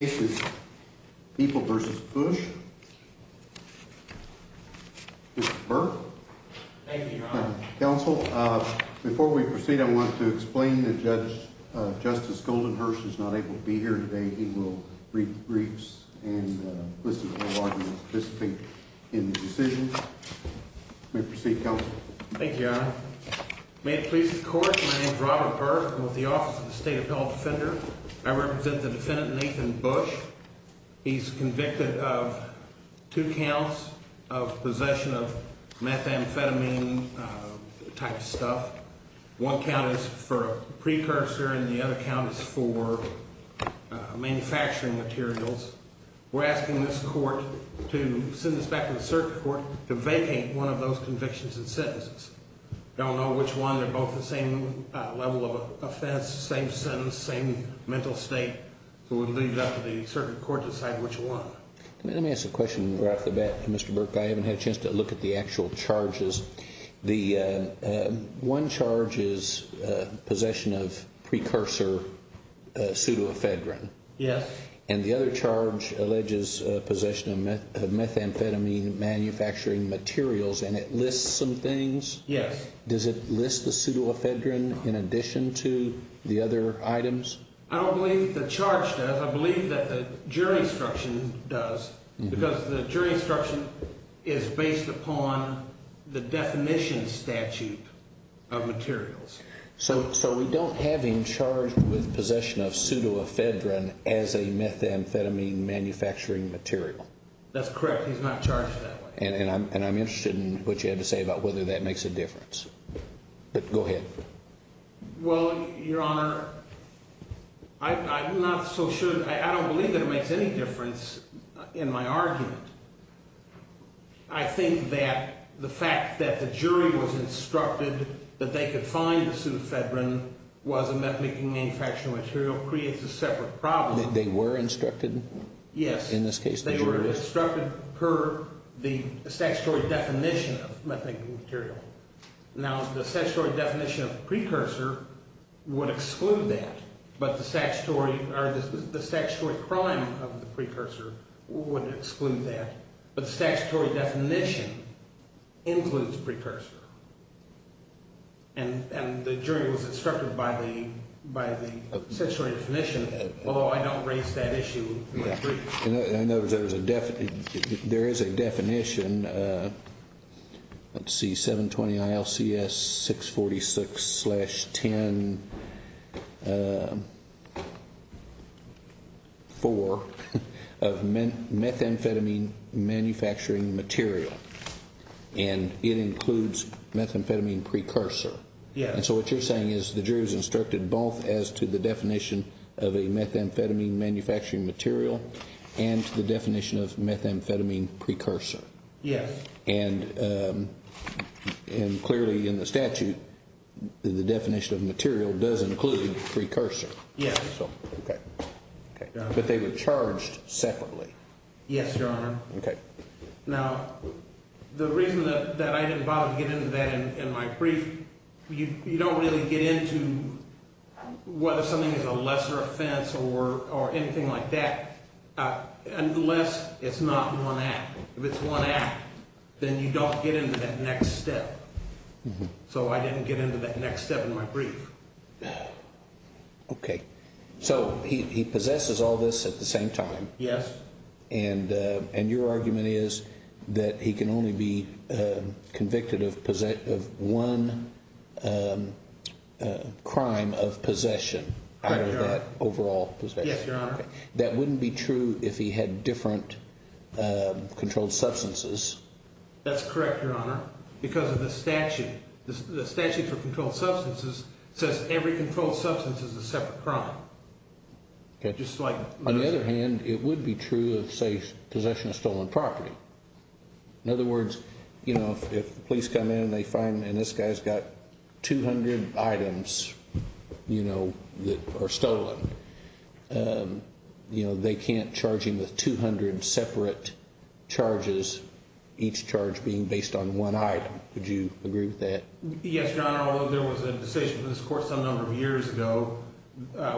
This is People v. Bush with Burr. Thank you, Your Honor. Counsel, before we proceed, I want to explain that Justice Goldenhurst is not able to be here today. He will read the briefs and listen to all arguments participating in the decision. You may proceed, Counsel. Thank you, Your Honor. May it please the Court, my name is Robert Burr. I'm with the Office of the State Appellate Defender. I represent the defendant, Nathan Bush. He's convicted of two counts of possession of methamphetamine type of stuff. One count is for a precursor and the other count is for manufacturing materials. We're asking this Court to send this back to the Circuit Court to vacate one of those convictions and sentences. We don't know which one. They're both the same level of offense, same sentence, same mental state. So we'll leave it up to the Circuit Court to decide which one. Let me ask a question right off the bat, Mr. Burr. I haven't had a chance to look at the actual charges. The one charge is possession of precursor pseudoephedrine. Yes. And the other charge alleges possession of methamphetamine manufacturing materials, and it lists some things. Yes. Does it list the pseudoephedrine in addition to the other items? I don't believe the charge does. I believe that the jury instruction does because the jury instruction is based upon the definition statute of materials. So we don't have him charged with possession of pseudoephedrine as a methamphetamine manufacturing material? That's correct. He's not charged that way. And I'm interested in what you had to say about whether that makes a difference. Go ahead. Well, Your Honor, I'm not so sure. I don't believe that it makes any difference in my argument. I think that the fact that the jury was instructed that they could find the pseudoephedrine was a methamphetamine manufacturing material creates a separate problem. They were instructed? Yes. In this case, the jury? They were instructed per the statutory definition of methamphetamine material. Now, the statutory definition of precursor would exclude that, but the statutory crime of the precursor would exclude that. But the statutory definition includes precursor. And the jury was instructed by the statutory definition, although I don't raise that issue. In other words, there is a definition, let's see, 720 ILCS 646-10-4 of methamphetamine manufacturing material, and it includes methamphetamine precursor. Yes. And so what you're saying is the jury was instructed both as to the definition of a methamphetamine manufacturing material and to the definition of methamphetamine precursor. Yes. And clearly in the statute, the definition of material does include precursor. Yes. Okay. But they were charged separately. Yes, Your Honor. Okay. Now, the reason that I didn't bother to get into that in my brief, you don't really get into whether something is a lesser offense or anything like that unless it's not one act. If it's one act, then you don't get into that next step. So I didn't get into that next step in my brief. Okay. So he possesses all this at the same time. Yes. And your argument is that he can only be convicted of one crime of possession out of that overall possession. Yes, Your Honor. That wouldn't be true if he had different controlled substances. That's correct, Your Honor, because of the statute. The statute for controlled substances says every controlled substance is a separate crime. Okay. On the other hand, it would be true of, say, possession of stolen property. In other words, if the police come in and they find this guy's got 200 items that are stolen, they can't charge him with 200 separate charges, each charge being based on one item. Would you agree with that? Yes, Your Honor. Now, although there was a decision in this court some number of years ago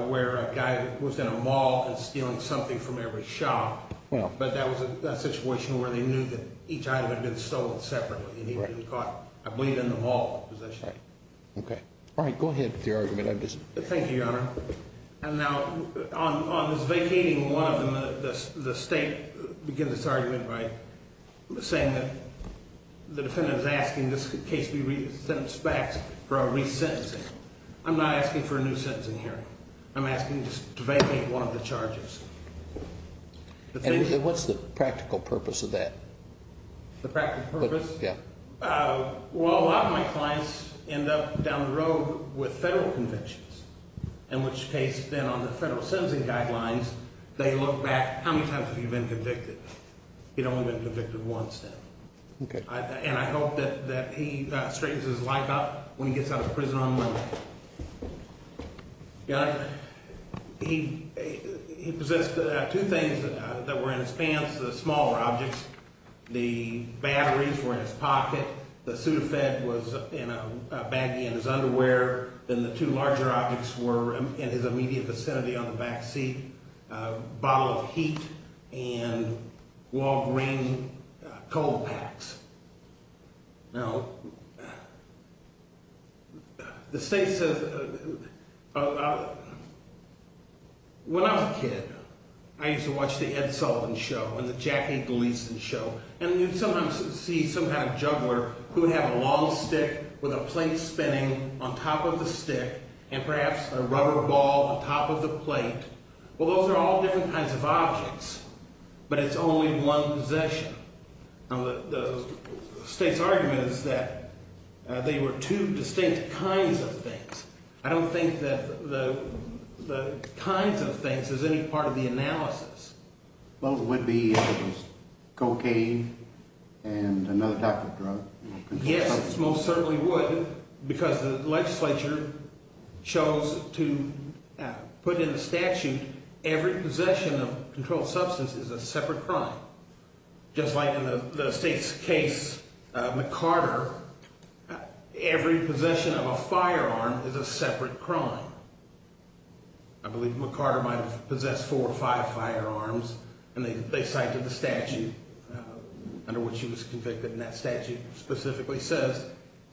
where a guy was in a mall and stealing something from every shop, but that was a situation where they knew that each item had been stolen separately and he had been caught, I believe, in the mall possession. Okay. All right. Go ahead with your argument. Thank you, Your Honor. Now, on this vacating one of them, the state begins its argument by saying that the defendant is asking this case be sent back for a resentencing. I'm not asking for a new sentencing hearing. I'm asking just to vacate one of the charges. And what's the practical purpose of that? The practical purpose? Yeah. Well, a lot of my clients end up down the road with federal conventions, in which case then on the federal sentencing guidelines, they look back, how many times have you been convicted? You've only been convicted once then. Okay. And I hope that he straightens his life up when he gets out of prison on Monday. Your Honor, he possessed two things that were in his pants, the smaller objects. The batteries were in his pocket. The Sudafed was in a baggie in his underwear. Then the two larger objects were in his immediate vicinity on the backseat, a bottle of heat and Walgreens cold packs. Now, the state says – when I was a kid, I used to watch the Ed Sullivan Show and the Jackie Gleason Show, and you'd sometimes see some kind of juggler who would have a long stick with a plate spinning on top of the stick and perhaps a rubber ball on top of the plate. Well, those are all different kinds of objects, but it's only one possession. Now, the state's argument is that they were two distinct kinds of things. I don't think that the kinds of things is any part of the analysis. Well, it would be if it was cocaine and another type of drug. Yes, it most certainly would because the legislature chose to put in the statute every possession of a controlled substance is a separate crime. Just like in the state's case, McCarter, every possession of a firearm is a separate crime. I believe McCarter might have possessed four or five firearms, and they cited the statute under which he was convicted, and that statute specifically says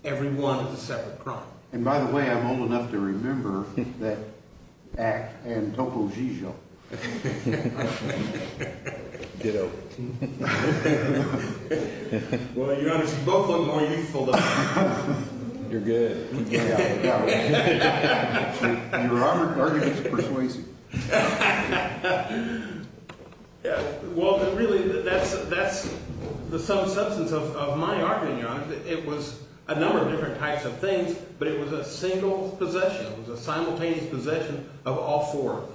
every one is a separate crime. And by the way, I'm old enough to remember that act and Topo Gigio. Ditto. Well, your Honor, you both look more youthful than me. You're good. Your argument persuades you. Well, really, that's the substance of my argument, Your Honor. It was a number of different types of things, but it was a single possession. It was a simultaneous possession of all four of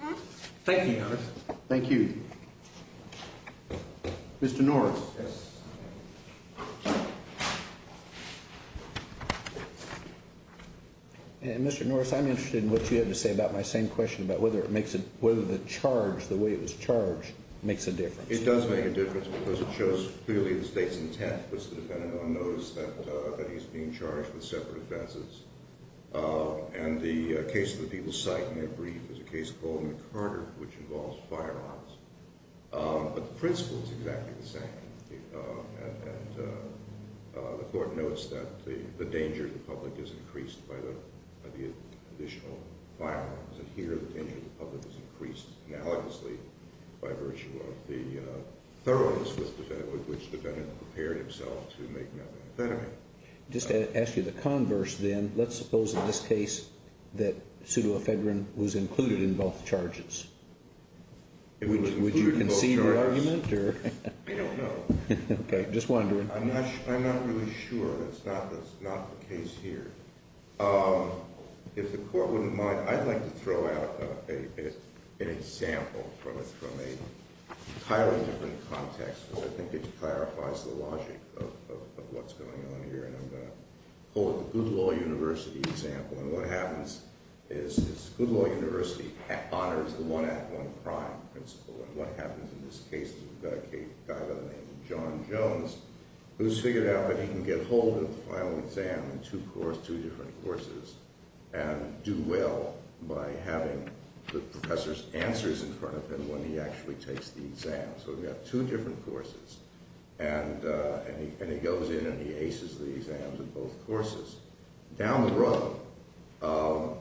them. Thank you, Your Honor. Thank you. Mr. Norris. Yes. Mr. Norris, I'm interested in what you had to say about my same question about whether the charge, the way it was charged, makes a difference. It does make a difference because it shows clearly the state's intent was to depend on notice that he's being charged with separate offenses. And the case that people cite in their brief is a case called McCarter, which involves firearms. But the principle is exactly the same. And the court notes that the danger to the public is increased by the additional firearms. And here the danger to the public is increased analogously by virtue of the thoroughness with which the defendant prepared himself to make another offense. Just to ask you the converse, then, let's suppose in this case that pseudoephedrine was included in both charges. Would you concede the argument? I don't know. Okay. Just wondering. I'm not really sure. That's not the case here. If the court wouldn't mind, I'd like to throw out an example from an entirely different context. I think it clarifies the logic of what's going on here. And I'm going to hold the Good Law University example. And what happens is Good Law University honors the one act, one crime principle. And what happens in this case is we've got a guy by the name of John Jones who's figured out that he can get hold of the final exam in two different courses and do well by having the professor's answers in front of him when he actually takes the exam. So we've got two different courses. And he goes in and he aces the exams in both courses. Down the road,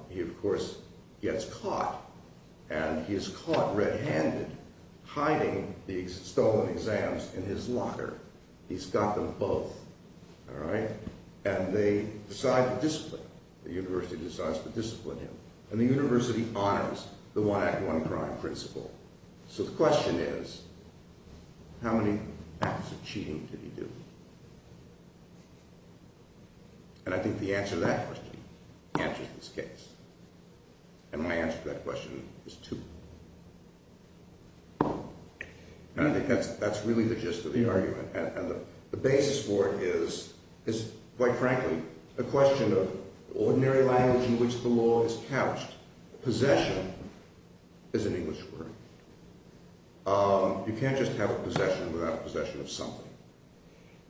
he, of course, gets caught. And he is caught red-handed hiding the stolen exams in his locker. He's got them both. All right? And they decide to discipline him. The university decides to discipline him. And the university honors the one act, one crime principle. So the question is how many acts of cheating did he do? And I think the answer to that question answers this case. And my answer to that question is two. And I think that's really the gist of the argument. And the basis for it is, quite frankly, a question of ordinary language in which the law is couched. Possession is an English word. You can't just have a possession without a possession of something.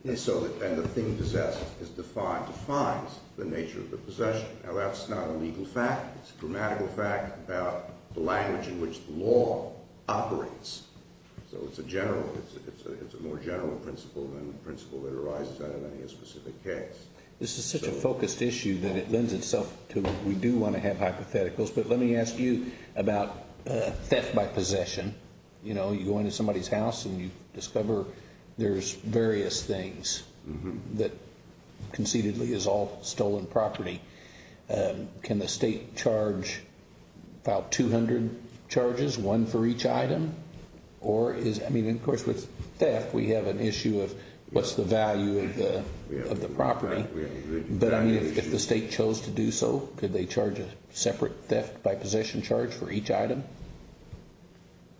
And the thing possessed defines the nature of the possession. Now, that's not a legal fact. It's a grammatical fact about the language in which the law operates. So it's a more general principle than the principle that arises out of any specific case. This is such a focused issue that it lends itself to we do want to have hypotheticals. But let me ask you about theft by possession. You know, you go into somebody's house and you discover there's various things that conceitedly is all stolen property. Can the state charge about 200 charges, one for each item? I mean, of course, with theft, we have an issue of what's the value of the property. But, I mean, if the state chose to do so, could they charge a separate theft by possession charge for each item?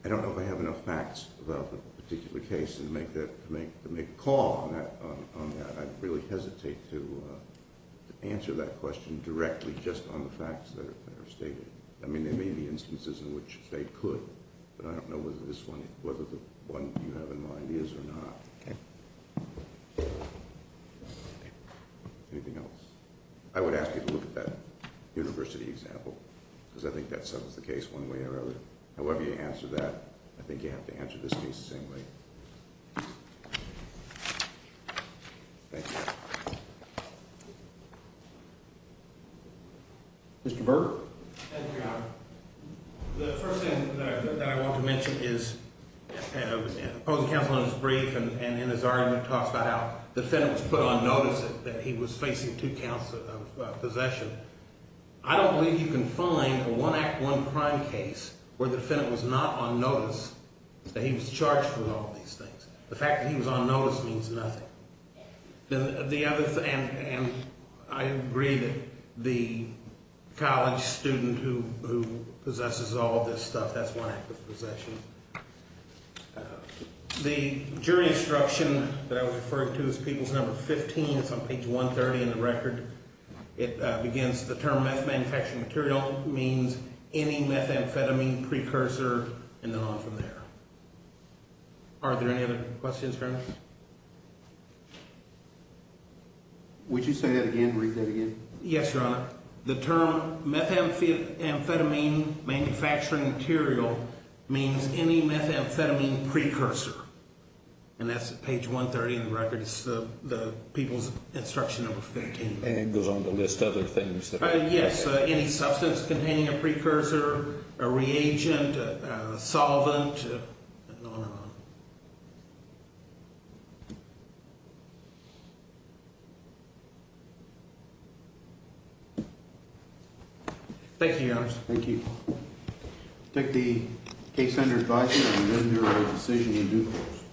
I don't know if I have enough facts about the particular case to make a call on that. I'd really hesitate to answer that question directly just on the facts that are stated. I mean, there may be instances in which they could. But I don't know whether this one, whether the one you have in mind is or not. Okay. Anything else? I would ask you to look at that university example, because I think that settles the case one way or another. However you answer that, I think you have to answer this case the same way. Mr. Berg? Thank you, Your Honor. The first thing that I want to mention is the opposing counsel in his brief and in his argument talks about how the defendant was put on notice that he was facing two counts of possession. I don't believe you can find a one act, one crime case where the defendant was not on notice that he was charged with all of these things. The fact that he was on notice means nothing. And I agree that the college student who possesses all of this stuff, that's one act of possession. The jury instruction that I was referring to is Peoples No. 15. It's on page 130 in the record. It begins, the term meth manufacturing material means any methamphetamine precursor and then on from there. Are there any other questions, Your Honor? Would you say that again, read that again? Yes, Your Honor. The term methamphetamine manufacturing material means any methamphetamine precursor. And that's page 130 in the record. It's the Peoples Instruction No. 15. And it goes on the list of other things. Yes, any substance containing a precursor, a reagent, a solvent, and on and on. Thank you, Your Honor. Thank you. I take the case under advice and amend the decision in due course.